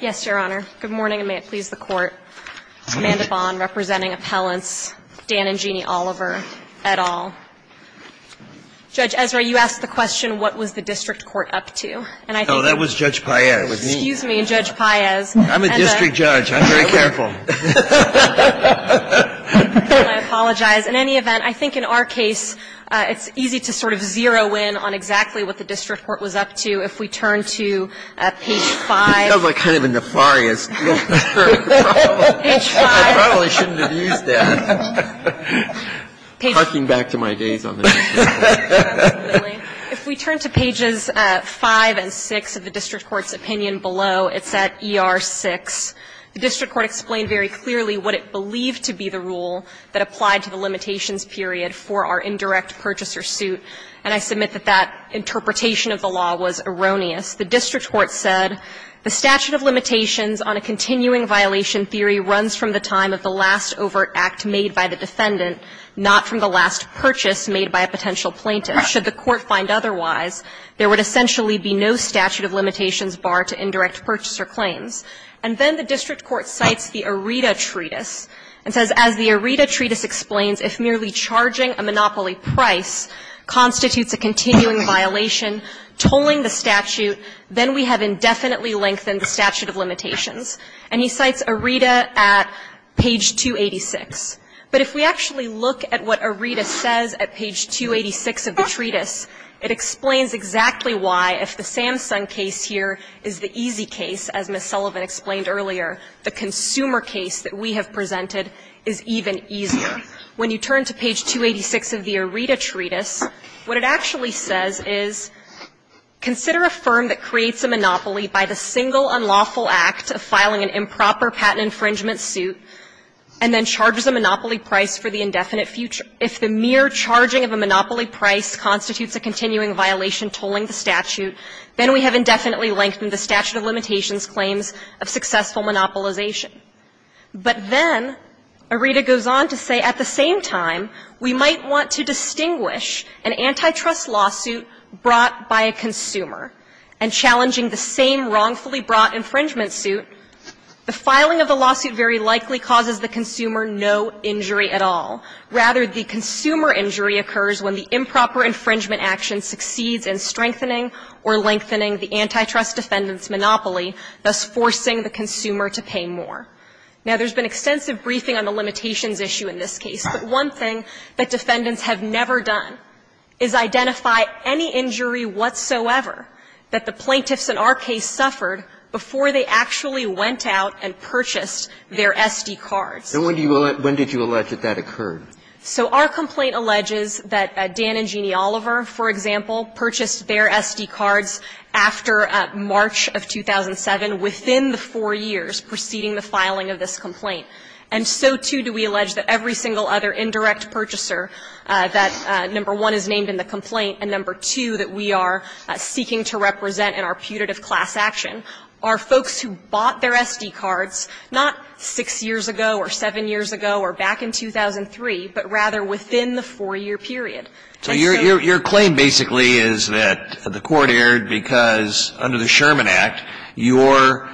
Yes, Your Honor. Good morning, and may it please the Court. Amanda Bonn, representing appellants, Dan and Jeannie Oliver, et al. Judge Ezra, you asked the question, what was the district court up to? And I think No, that was Judge Paez. Excuse me, Judge Paez. I'm a district judge. I'm very careful. I apologize. In any event, I think in our case, it's easy to sort of zero in on exactly what the district court was up to if we turn to page 5. That sounds like kind of a nefarious, nefarious problem. Page 5. I probably shouldn't have used that. Parking back to my days on the district court. Absolutely. If we turn to pages 5 and 6 of the district court's opinion below, it's at ER-6. The district court explained very clearly what it believed to be the rule that applied to the limitations period for our indirect purchaser suit, and I submit that that interpretation of the law was erroneous. The district court said, The statute of limitations on a continuing violation theory runs from the time of the last overt act made by the defendant, not from the last purchase made by a potential plaintiff. Should the court find otherwise, there would essentially be no statute of limitations barred to indirect purchaser claims. And then the district court cites the Aretha Treatise and says, As the Aretha Treatise explains, if merely charging a monopoly price constitutes a continuing violation, tolling the statute, then we have indefinitely lengthened the statute of limitations. And he cites Aretha at page 286. But if we actually look at what Aretha says at page 286 of the treatise, it explains exactly why, if the Samsung case here is the easy case, as Ms. Sullivan explained earlier, the consumer case that we have presented is even easier. When you turn to page 286 of the Aretha Treatise, what it actually says is, consider a firm that creates a monopoly by the single unlawful act of filing an improper patent infringement suit, and then charges a monopoly price for the indefinite future. If the mere charging of a monopoly price constitutes a continuing violation tolling the statute, then we have indefinitely lengthened the statute of limitations claims of successful monopolization. But then Aretha goes on to say, at the same time, we might want to distinguish an antitrust lawsuit brought by a consumer, and challenging the same wrongfully brought infringement suit, the filing of the lawsuit very likely causes the consumer no injury at all. Rather, the consumer injury occurs when the improper infringement action succeeds in strengthening or lengthening the antitrust defendant's monopoly, thus forcing the consumer to pay more. Now, there's been extensive briefing on the limitations issue in this case. But one thing that defendants have never done is identify any injury whatsoever that the plaintiffs in our case suffered before they actually went out and purchased their SD cards. So when did you allege that that occurred? So our complaint alleges that Dan and Jeannie Oliver, for example, purchased their SD cards after March of 2007, within the four years preceding the filing of this complaint. And so, too, do we allege that every single other indirect purchaser that, number one, is named in the complaint, and number two, that we are seeking to represent in our putative class action are folks who bought their SD cards not 6 years ago or 7 years ago or back in 2003, but rather within the 4-year period. So your claim basically is that the Court erred because under the Sherman Act, your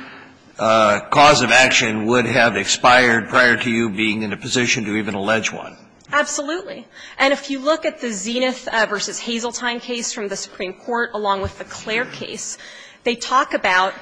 cause of action would have expired prior to you being in a position to even allege one. Absolutely. And if you look at the Zenith v. Hazeltine case from the Supreme Court, along with the Clair case, they talk about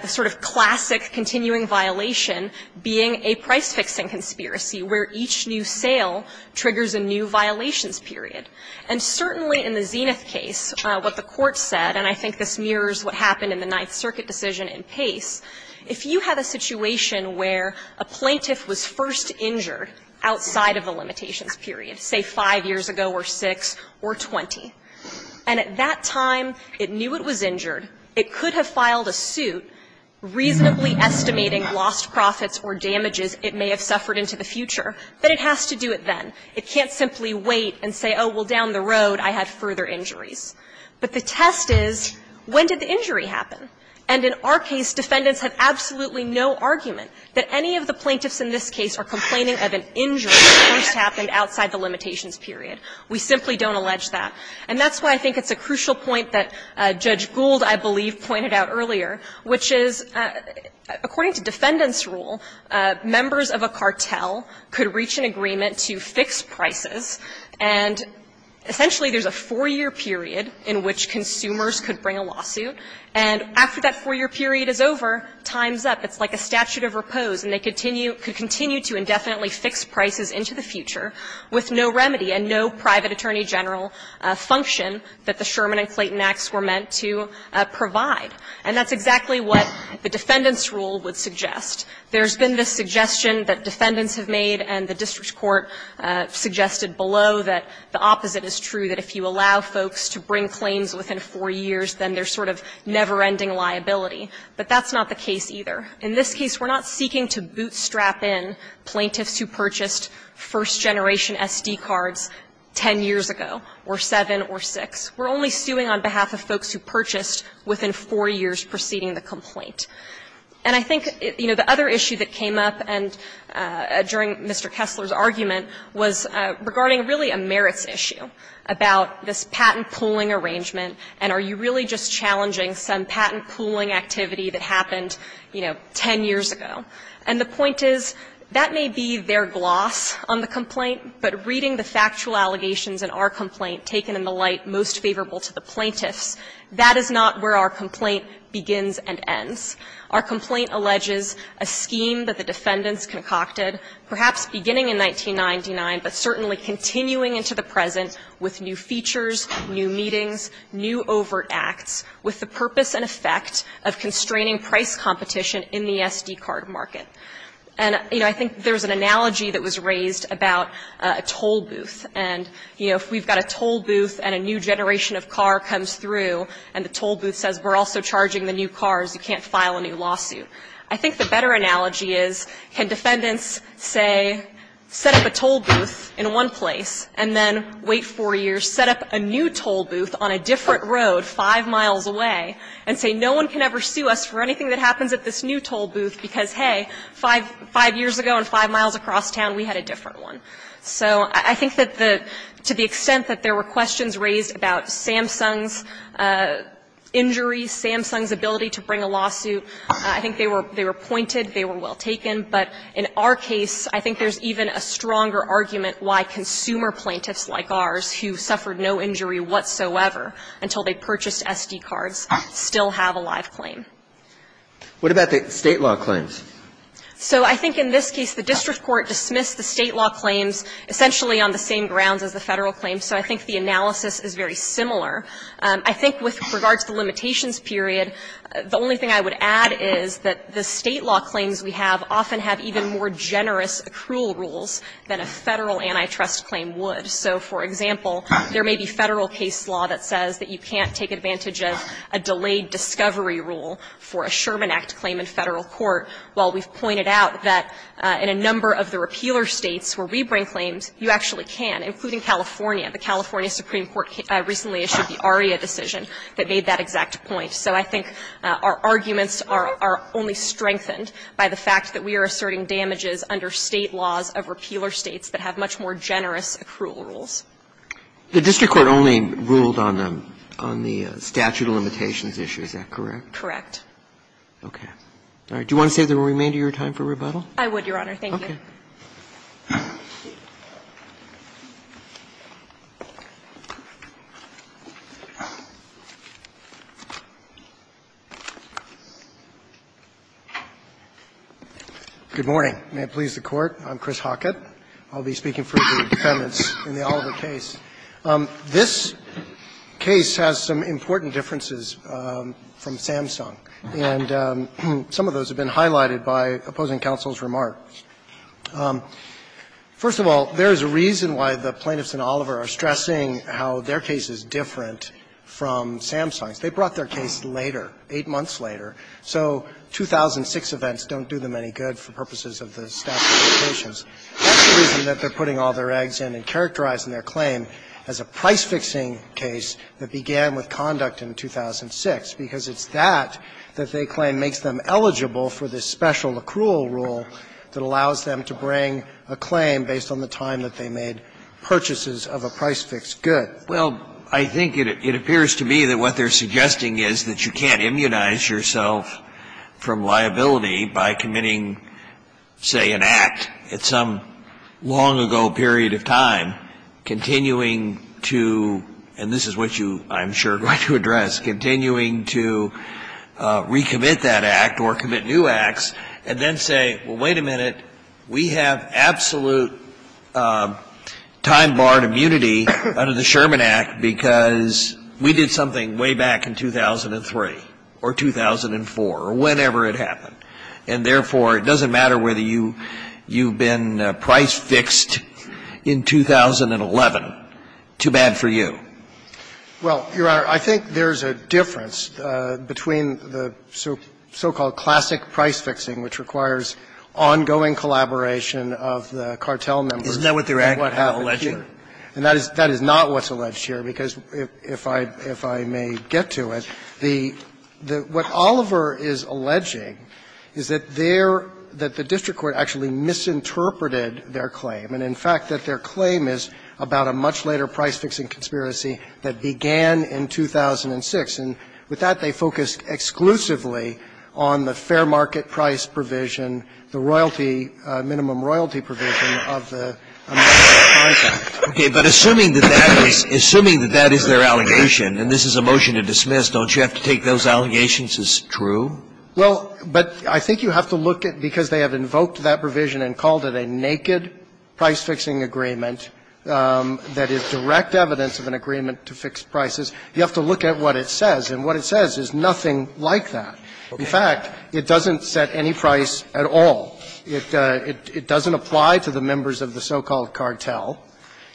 the sort of classic continuing violation being a price-fixing conspiracy, where each new sale triggers a new violations period. And certainly in the Zenith case, what the Court said, and I think this mirrors what happened in the Ninth Circuit decision in Pace, if you had a situation where a plaintiff was first injured outside of the limitations period, say 5 years ago or 6 or 20, and at that time it knew it was injured, it could have filed a suit reasonably estimating lost profits or damages it may have suffered into the future, but it has to do it then. It can't simply wait and say, oh, well, down the road I had further injuries. But the test is, when did the injury happen? And in our case, defendants have absolutely no argument that any of the plaintiffs in this case are complaining of an injury that first happened outside the limitations period. We simply don't allege that. And that's why I think it's a crucial point that Judge Gould, I believe, pointed out earlier, which is, according to defendant's rule, members of a cartel could reach an agreement to fix prices, and essentially there's a 4-year period in which consumers could bring a lawsuit, and after that 4-year period is over, time's up. It's like a statute of repose, and they continue to indefinitely fix prices into the future with no remedy and no private attorney general function that the Sherman and Clayton Acts were meant to provide. And that's exactly what the defendant's rule would suggest. There's been the suggestion that defendants have made and the district court suggested below that the opposite is true, that if you allow folks to bring claims within 4 years, then there's sort of never-ending liability. But that's not the case either. In this case, we're not seeking to bootstrap in plaintiffs who purchased first-generation SD cards 10 years ago or 7 or 6. We're only suing on behalf of folks who purchased within 4 years preceding the complaint. And I think, you know, the other issue that came up during Mr. Kessler's argument was regarding really a merits issue about this patent pooling arrangement, and are you really just challenging some patent pooling activity that happened, you know, 10 years ago. And the point is, that may be their gloss on the complaint, but reading the factual allegations in our complaint taken in the light most favorable to the plaintiffs, that is not where our complaint begins and ends. Our complaint alleges a scheme that the defendants concocted, perhaps beginning in 1999, but certainly continuing into the present with new features, new meetings, new overt acts, with the purpose and effect of constraining price competition in the SD card market. And, you know, I think there's an analogy that was raised about a toll booth. And, you know, if we've got a toll booth and a new generation of car comes through and the toll booth says we're also charging the new cars, you can't file a new lawsuit. I think the better analogy is, can defendants say, set up a toll booth in one place and then wait 4 years, set up a new toll booth on a different road 5 miles away, and say no one can ever sue us for anything that happens at this new toll booth, because, hey, 5 years ago and 5 miles across town we had a different one. So I think that the to the extent that there were questions raised about Samsung's injury, Samsung's ability to bring a lawsuit, I think they were pointed, they were well taken, but in our case I think there's even a stronger argument why consumer plaintiffs like ours who suffered no injury whatsoever until they purchased SD cards still have a live claim. What about the State law claims? So I think in this case the district court dismissed the State law claims essentially on the same grounds as the Federal claims, so I think the analysis is very similar. I think with regard to the limitations period, the only thing I would add is that the State law claims we have often have even more generous accrual rules than a Federal antitrust claim would. So, for example, there may be Federal case law that says that you can't take advantage of a delayed discovery rule for a Sherman Act claim in Federal court, while we've pointed out that in a number of the repealer States where we bring claims, you actually can, including California. The California Supreme Court recently issued the ARIA decision that made that exact point. So I think our arguments are only strengthened by the fact that we are asserting damages under State laws of repealer States that have much more generous accrual rules. The district court only ruled on the statute of limitations issue, is that correct? Correct. Okay. All right. Do you want to save the remainder of your time for rebuttal? I would, Your Honor. Thank you. Okay. Good morning. May it please the Court. I'm Chris Hockett. I'll be speaking for the defendants in the Oliver case. This case has some important differences from Samsung, and some of those have been highlighted by opposing counsel's remarks. First of all, there is a reason why the plaintiffs in Oliver are stressing how their case is different from Samsung's. They brought their case later, 8 months later, so 2006 events don't do them any good for purposes of the statute of limitations. That's the reason that they're putting all their eggs in and characterizing their claim as a price-fixing case that began with conduct in 2006, because it's that that they claim makes them eligible for this special accrual rule that allows them to bring a claim based on the time that they made purchases of a price-fixed good. Well, I think it appears to me that what they're suggesting is that you can't immunize yourself from liability by committing, say, an act. It's some long-ago period of time, continuing to, and this is what you, I'm sure, are going to address, continuing to recommit that act or commit new acts, and then say, well, wait a minute, we have absolute time-barred immunity under the Sherman Act because we did something way back in 2003 or 2004 or whenever it happened. And therefore, it doesn't matter whether you've been price-fixed in 2011. Too bad for you. Well, Your Honor, I think there's a difference between the so-called classic price-fixing, which requires ongoing collaboration of the cartel members. Isn't that what they're actually alleging? And that is not what's alleged here, because if I may get to it, what Oliver is alleging is that their, that the district court actually misinterpreted their claim, and in fact that their claim is about a much later price-fixing conspiracy that began in 2006. And with that, they focused exclusively on the fair market price provision, the royalty, minimum royalty provision of the American Crime Act. Okay. But assuming that that is their allegation, and this is a motion to dismiss, don't you have to take those allegations as true? Well, but I think you have to look at, because they have invoked that provision and called it a naked price-fixing agreement that is direct evidence of an agreement to fix prices, you have to look at what it says. And what it says is nothing like that. In fact, it doesn't set any price at all. It doesn't apply to the members of the so-called cartel.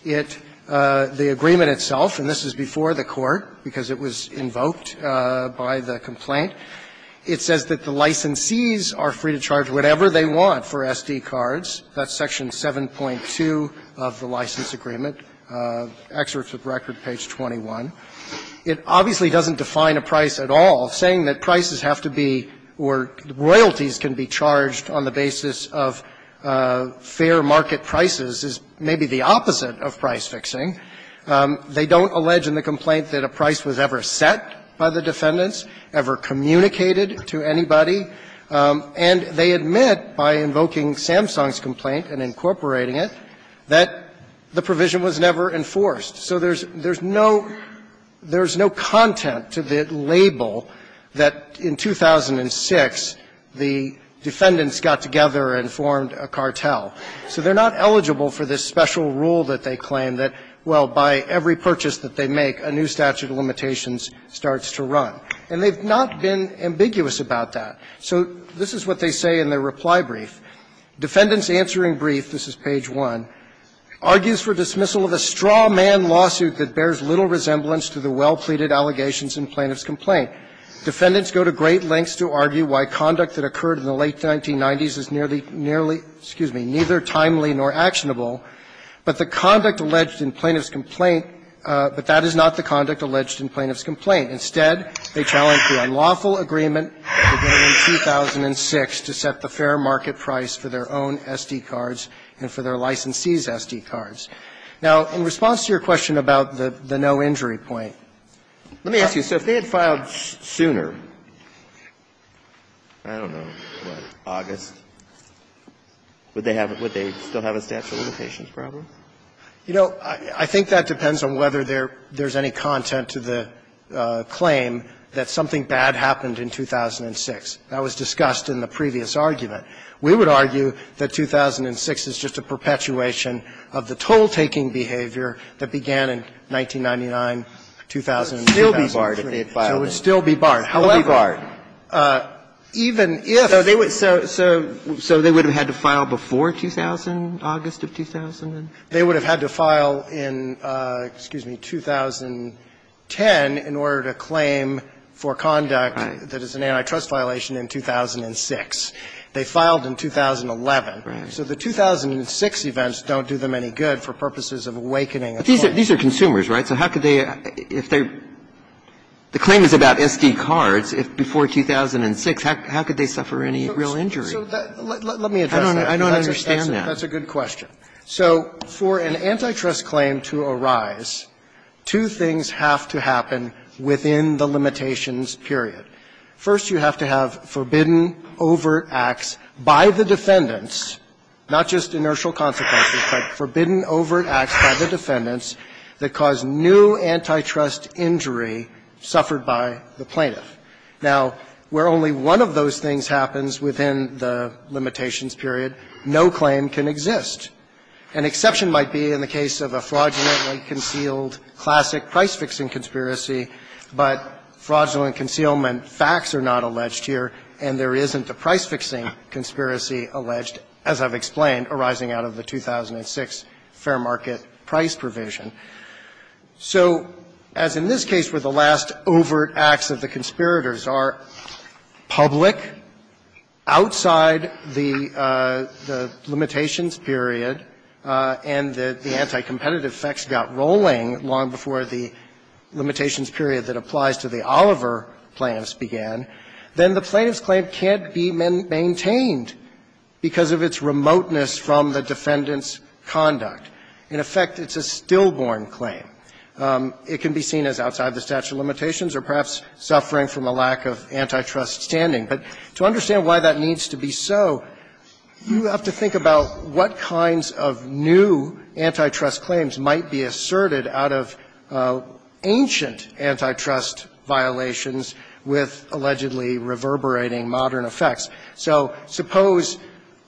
It, the agreement itself, and this is before the Court because it was invoked by the complaint, it says that the licensees are free to charge whatever they want for SD cards. That's section 7.2 of the license agreement, excerpts of record, page 21. It obviously doesn't define a price at all, saying that prices have to be, or royalties can be charged on the basis of fair market prices is maybe the opposite of price-fixing. They don't allege in the complaint that a price was ever set by the defendants, ever communicated to anybody. And they admit by invoking Samsung's complaint and incorporating it that the provision was never enforced. So there's no, there's no content to the label that in 2006, the, you know, the Samsung company, the defendants got together and formed a cartel. So they're not eligible for this special rule that they claim that, well, by every purchase that they make, a new statute of limitations starts to run. And they've not been ambiguous about that. So this is what they say in their reply brief. Defendants answering brief, this is page 1, argues for dismissal of a straw man lawsuit that bears little resemblance to the well-pleaded allegations in plaintiff's complaint. Defendants go to great lengths to argue why conduct that occurred in the late 1990s is nearly, nearly, excuse me, neither timely nor actionable, but the conduct alleged in plaintiff's complaint, but that is not the conduct alleged in plaintiff's complaint. Instead, they challenge the unlawful agreement that was made in 2006 to set the fair market price for their own S.D. cards and for their licensee's S.D. cards. Now, in response to your question about the no injury point, let me ask you, so if they had filed sooner, I don't know, what, August, would they have, would they still have a statute of limitations problem? You know, I think that depends on whether there's any content to the claim that something bad happened in 2006. That was discussed in the previous argument. We would argue that 2006 is just a perpetuation of the toll-taking behavior that began in 1999, 2000 and 2003. So it would still be barred, however, even if so, so, so they would have had to file before 2000, August of 2000? They would have had to file in, excuse me, 2010 in order to claim for conduct that is an antitrust violation in 2006. They filed in 2011. So the 2006 events don't do them any good for purposes of awakening a claim. These are consumers, right? So how could they, if they're, the claim is about SD cards. If before 2006, how could they suffer any real injury? Let me address that. I don't understand that. That's a good question. So for an antitrust claim to arise, two things have to happen within the limitations period. First, you have to have forbidden overt acts by the defendants, not just inertial consequences, but forbidden overt acts by the defendants that cause new antitrust injury suffered by the plaintiff. Now, where only one of those things happens within the limitations period, no claim can exist. An exception might be in the case of a fraudulently concealed classic price-fixing conspiracy, but fraudulent concealment facts are not alleged here, and there isn't a price-fixing conspiracy alleged, as I've explained, arising out of the 2006 fair market price provision. So as in this case where the last overt acts of the conspirators are public, outside the limitations period, and the anti-competitive effects got rolling long before the limitations period that applies to the Oliver plaintiffs began, then the plaintiff's claim can't be maintained because of its remoteness from the defendant's conduct. In effect, it's a stillborn claim. It can be seen as outside the statute of limitations or perhaps suffering from a lack of antitrust standing. But to understand why that needs to be so, you have to think about what kinds of new antitrust claims might be asserted out of ancient antitrust violations with allegedly reverberating modern effects. So suppose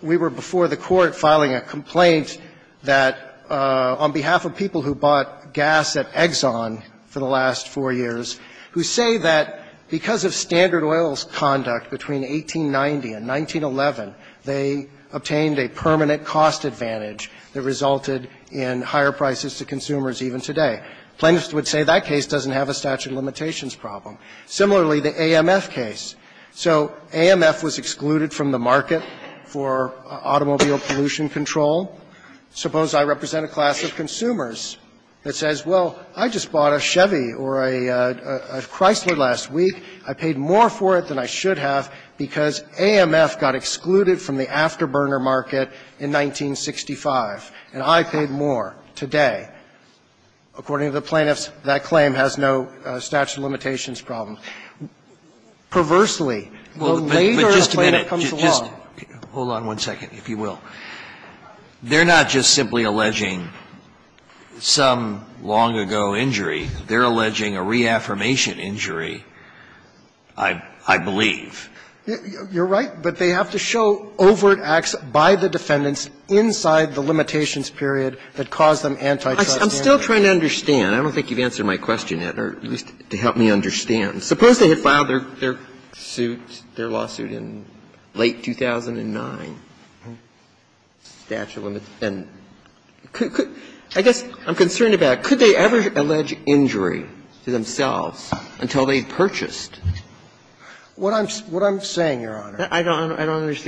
we were before the Court filing a complaint that on behalf of people who bought gas at Exxon for the last four years, who say that because of standard oils conduct between 1890 and 1911, they obtained a permanent cost advantage that resulted in higher prices to consumers even today. Plaintiffs would say that case doesn't have a statute of limitations problem. Similarly, the AMF case. So AMF was excluded from the market for automobile pollution control. Suppose I represent a class of consumers that says, well, I just bought a Chevy or a Chrysler last week. I paid more for it than I should have because AMF got excluded from the afterburner market in 1965, and I paid more today. According to the plaintiffs, that claim has no statute of limitations problem. Perversely, the later a plaintiff comes along. Scalia, hold on one second, if you will. They're not just simply alleging some long-ago injury. They're alleging a reaffirmation injury, I believe. You're right, but they have to show overt acts by the defendants inside the limitations period that cause them antitrust. I'm still trying to understand. I don't think you've answered my question yet, or at least to help me understand. Suppose they had filed their suit, their lawsuit in late 2009, statute of limitations. I guess I'm concerned about, could they ever allege injury to themselves until they had purchased? What I'm saying, Your Honor, is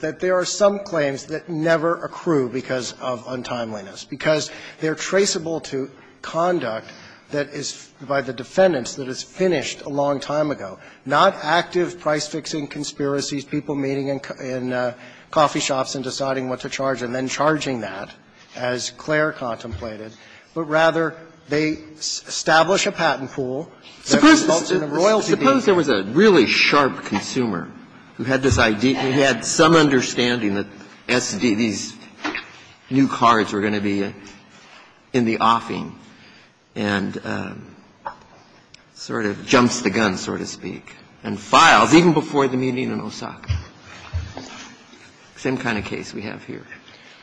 that there are some claims that never accrue because of untimeliness, because they're traceable to conduct that is by the defendants that is finished a long time ago, not active price-fixing conspiracies, people meeting in coffee shops and deciding what to charge, and then charging that, as Clare contemplated, but rather they establish a patent pool that results in a royalty deed. And suppose there was a really sharp consumer who had this idea, who had some understanding that these new cards were going to be in the offing and sort of jumps the gun, so to speak, and files even before the meeting in Osaka. Same kind of case we have here.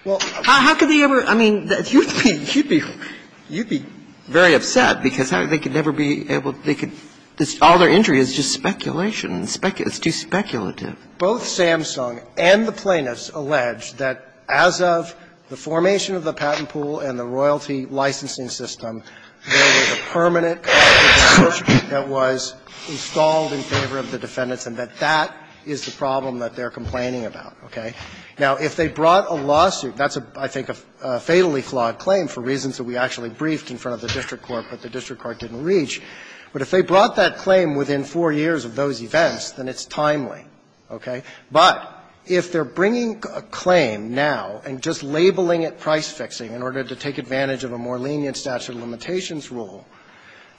Well, how could they ever – I mean, you'd be very upset because they could never be able – they could – all their injury is just speculation, and it's too speculative. Both Samsung and the plaintiffs allege that as of the formation of the patent pool and the royalty licensing system, there was a permanent conflict of interest that was installed in favor of the defendants, and that that is the problem that they're complaining about, okay? Now, if they brought a lawsuit – that's, I think, a fatally flawed claim for reasons that we actually briefed in front of the district court but the district court didn't reach – but if they brought that claim within four years of those events, then it's timely, okay? But if they're bringing a claim now and just labeling it price-fixing in order to take advantage of a more lenient statute of limitations rule,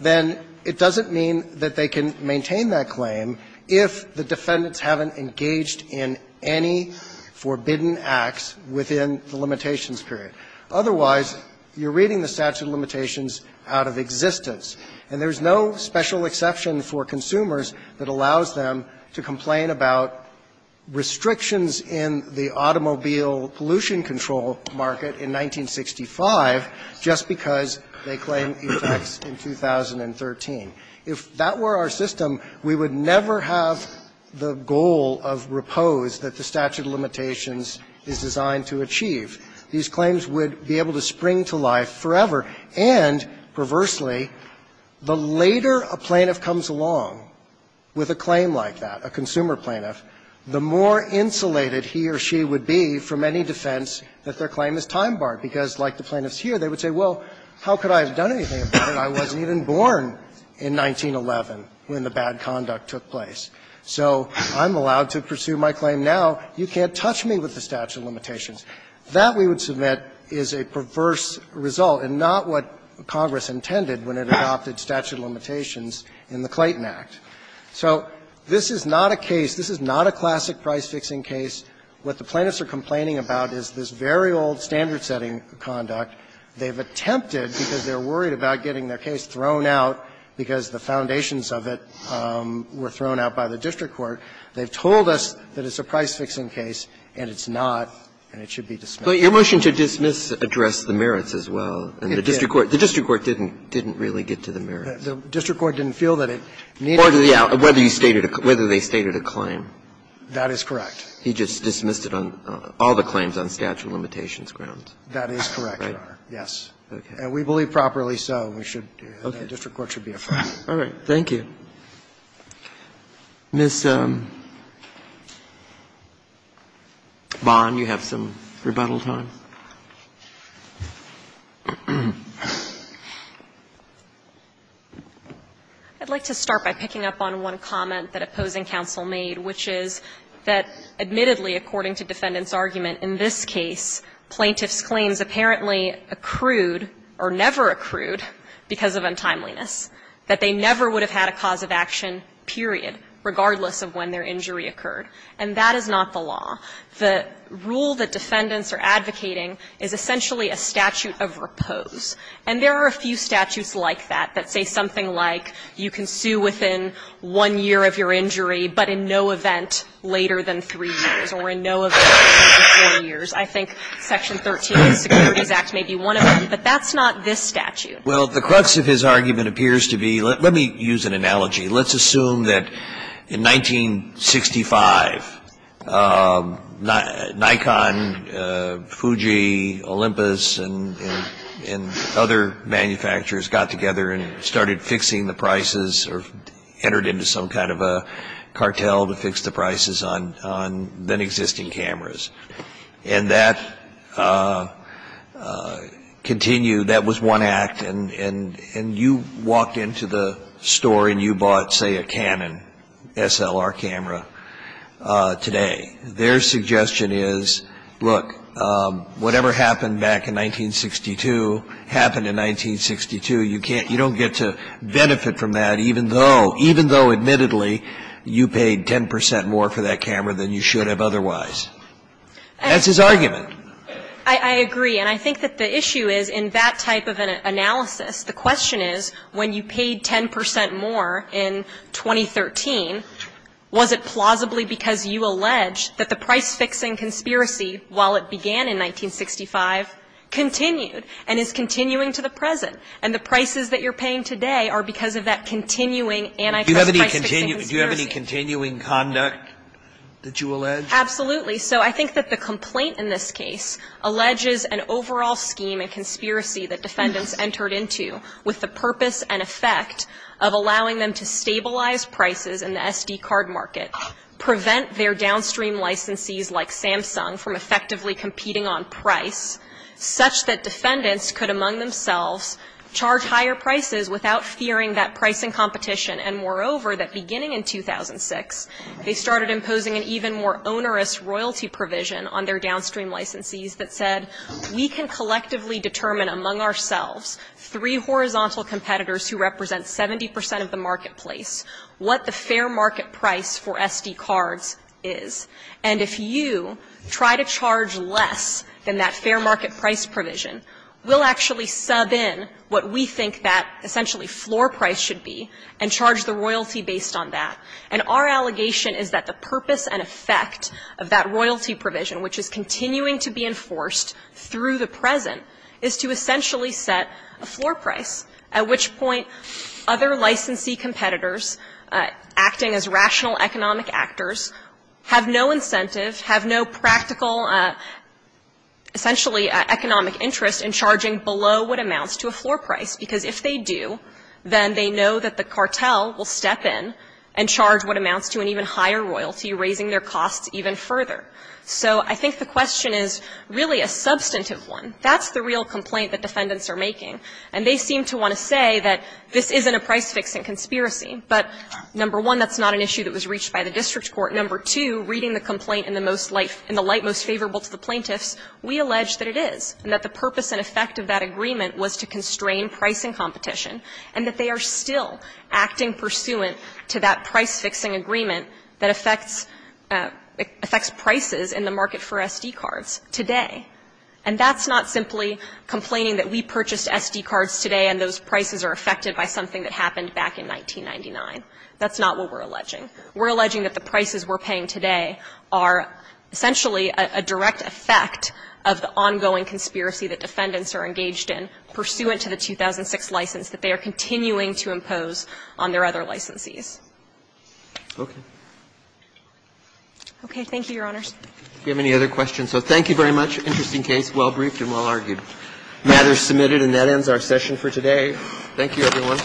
then it doesn't mean that they can maintain that claim if the defendants haven't engaged in any forbidden acts within the limitations period. Otherwise, you're reading the statute of limitations out of existence. And there's no special exception for consumers that allows them to complain about restrictions in the automobile pollution control market in 1965 just because they claim defects in 2013. If that were our system, we would never have the goal of repose that the statute of limitations is designed to achieve. These claims would be able to spring to life forever. And, perversely, the later a plaintiff comes along with a claim like that, a consumer plaintiff, the more insulated he or she would be from any defense that their claim is time-barred, because like the plaintiffs here, they would say, well, how could I have done anything if I wasn't even born in 1911 when the bad conduct took place? So I'm allowed to pursue my claim now. You can't touch me with the statute of limitations. That, we would submit, is a perverse result and not what Congress intended when it adopted statute of limitations in the Clayton Act. So this is not a case, this is not a classic price-fixing case. What the plaintiffs are complaining about is this very old standard-setting conduct. They've attempted, because they're worried about getting their case thrown out because the foundations of it were thrown out by the district court, they've told us that it's a price-fixing case, and it's not, and it should be dismissed. But your motion to dismiss addressed the merits as well, and the district court didn't, didn't really get to the merits. The district court didn't feel that it needed to be dismissed. Whether they stated a claim. That is correct. He just dismissed it on all the claims on statute of limitations grounds. That is correct, Your Honor, yes. And we believe properly so. We should, the district court should be afraid. All right. Thank you. Ms. Bond, you have some rebuttal time. I'd like to start by picking up on one comment that opposing counsel made, which is that admittedly, according to defendant's argument, in this case, plaintiff's claims apparently accrued or never accrued because of untimeliness, that they never would have had a cause of action, period, regardless of when their injury occurred. And that is not the law. The rule that defendants are advocating is essentially a statute of repose. And there are a few statutes like that that say something like you can sue within one year of your injury, but in no event later than three years, or in no event later than four years. I think Section 13 of the Securities Act may be one of them, but that's not this statute. Well, the crux of his argument appears to be, let me use an analogy. Let's assume that in 1965, Nikon, Fuji, Olympus, and other manufacturers got together and started fixing the prices or entered into some kind of a cartel to fix the prices on then existing cameras. And that continued, that was one act, and you walked into the store and you bought, say, a Canon SLR camera today. Their suggestion is, look, whatever happened back in 1962 happened in 1962. You don't get to benefit from that, even though, admittedly, you paid 10 percent more for that camera than you should have otherwise. That's his argument. I agree. And I think that the issue is, in that type of an analysis, the question is, when you paid 10 percent more in 2013, was it plausibly because you allege that the price-fixing conspiracy, while it began in 1965, continued and is continuing to the present? And the prices that you're paying today are because of that continuing anti-price-fixing conspiracy. Do you have any continuing conduct that you allege? Absolutely. So I think that the complaint in this case alleges an overall scheme and conspiracy that defendants entered into with the purpose and effect of allowing them to stabilize prices in the SD card market, prevent their downstream licensees like Samsung from effectively competing on price, such that defendants could, among themselves, charge higher prices without fearing that pricing competition. And moreover, that beginning in 2006, they started imposing an even more onerous royalty provision on their downstream licensees that said, we can collectively determine among ourselves, three horizontal competitors who represent 70 percent of the marketplace, what the fair market price for SD cards is. And if you try to charge less than that fair market price provision, we'll actually sub in what we think that essentially floor price should be and charge the royalty based on that. And our allegation is that the purpose and effect of that royalty provision, which is continuing to be enforced through the present, is to essentially set a floor price, at which point other licensee competitors acting as rational economic actors have no incentive, have no practical, essentially economic interest in charging below what amounts to a floor price. Because if they do, then they know that the cartel will step in and charge what amounts to an even higher royalty, raising their costs even further. So I think the question is really a substantive one. That's the real complaint that defendants are making. And they seem to want to say that this isn't a price fix in conspiracy. But, number one, that's not an issue that was reached by the district court. Number two, reading the complaint in the most light, in the light most favorable to the plaintiffs, we allege that it is, and that the purpose and effect of that agreement was to constrain price and competition, and that they are still acting pursuant to that price-fixing agreement that affects prices in the market for SD cards today. And that's not simply complaining that we purchased SD cards today and those prices are affected by something that happened back in 1999. That's not what we're alleging. We're alleging that the prices we're paying today are essentially a direct effect of the ongoing conspiracy that defendants are engaged in pursuant to the 2006 license that they are continuing to impose on their other licensees. Okay. Okay. Thank you, Your Honors. Do you have any other questions? So thank you very much. Interesting case, well-briefed and well-argued. The matter is submitted, and that ends our session for today. Thank you, everyone.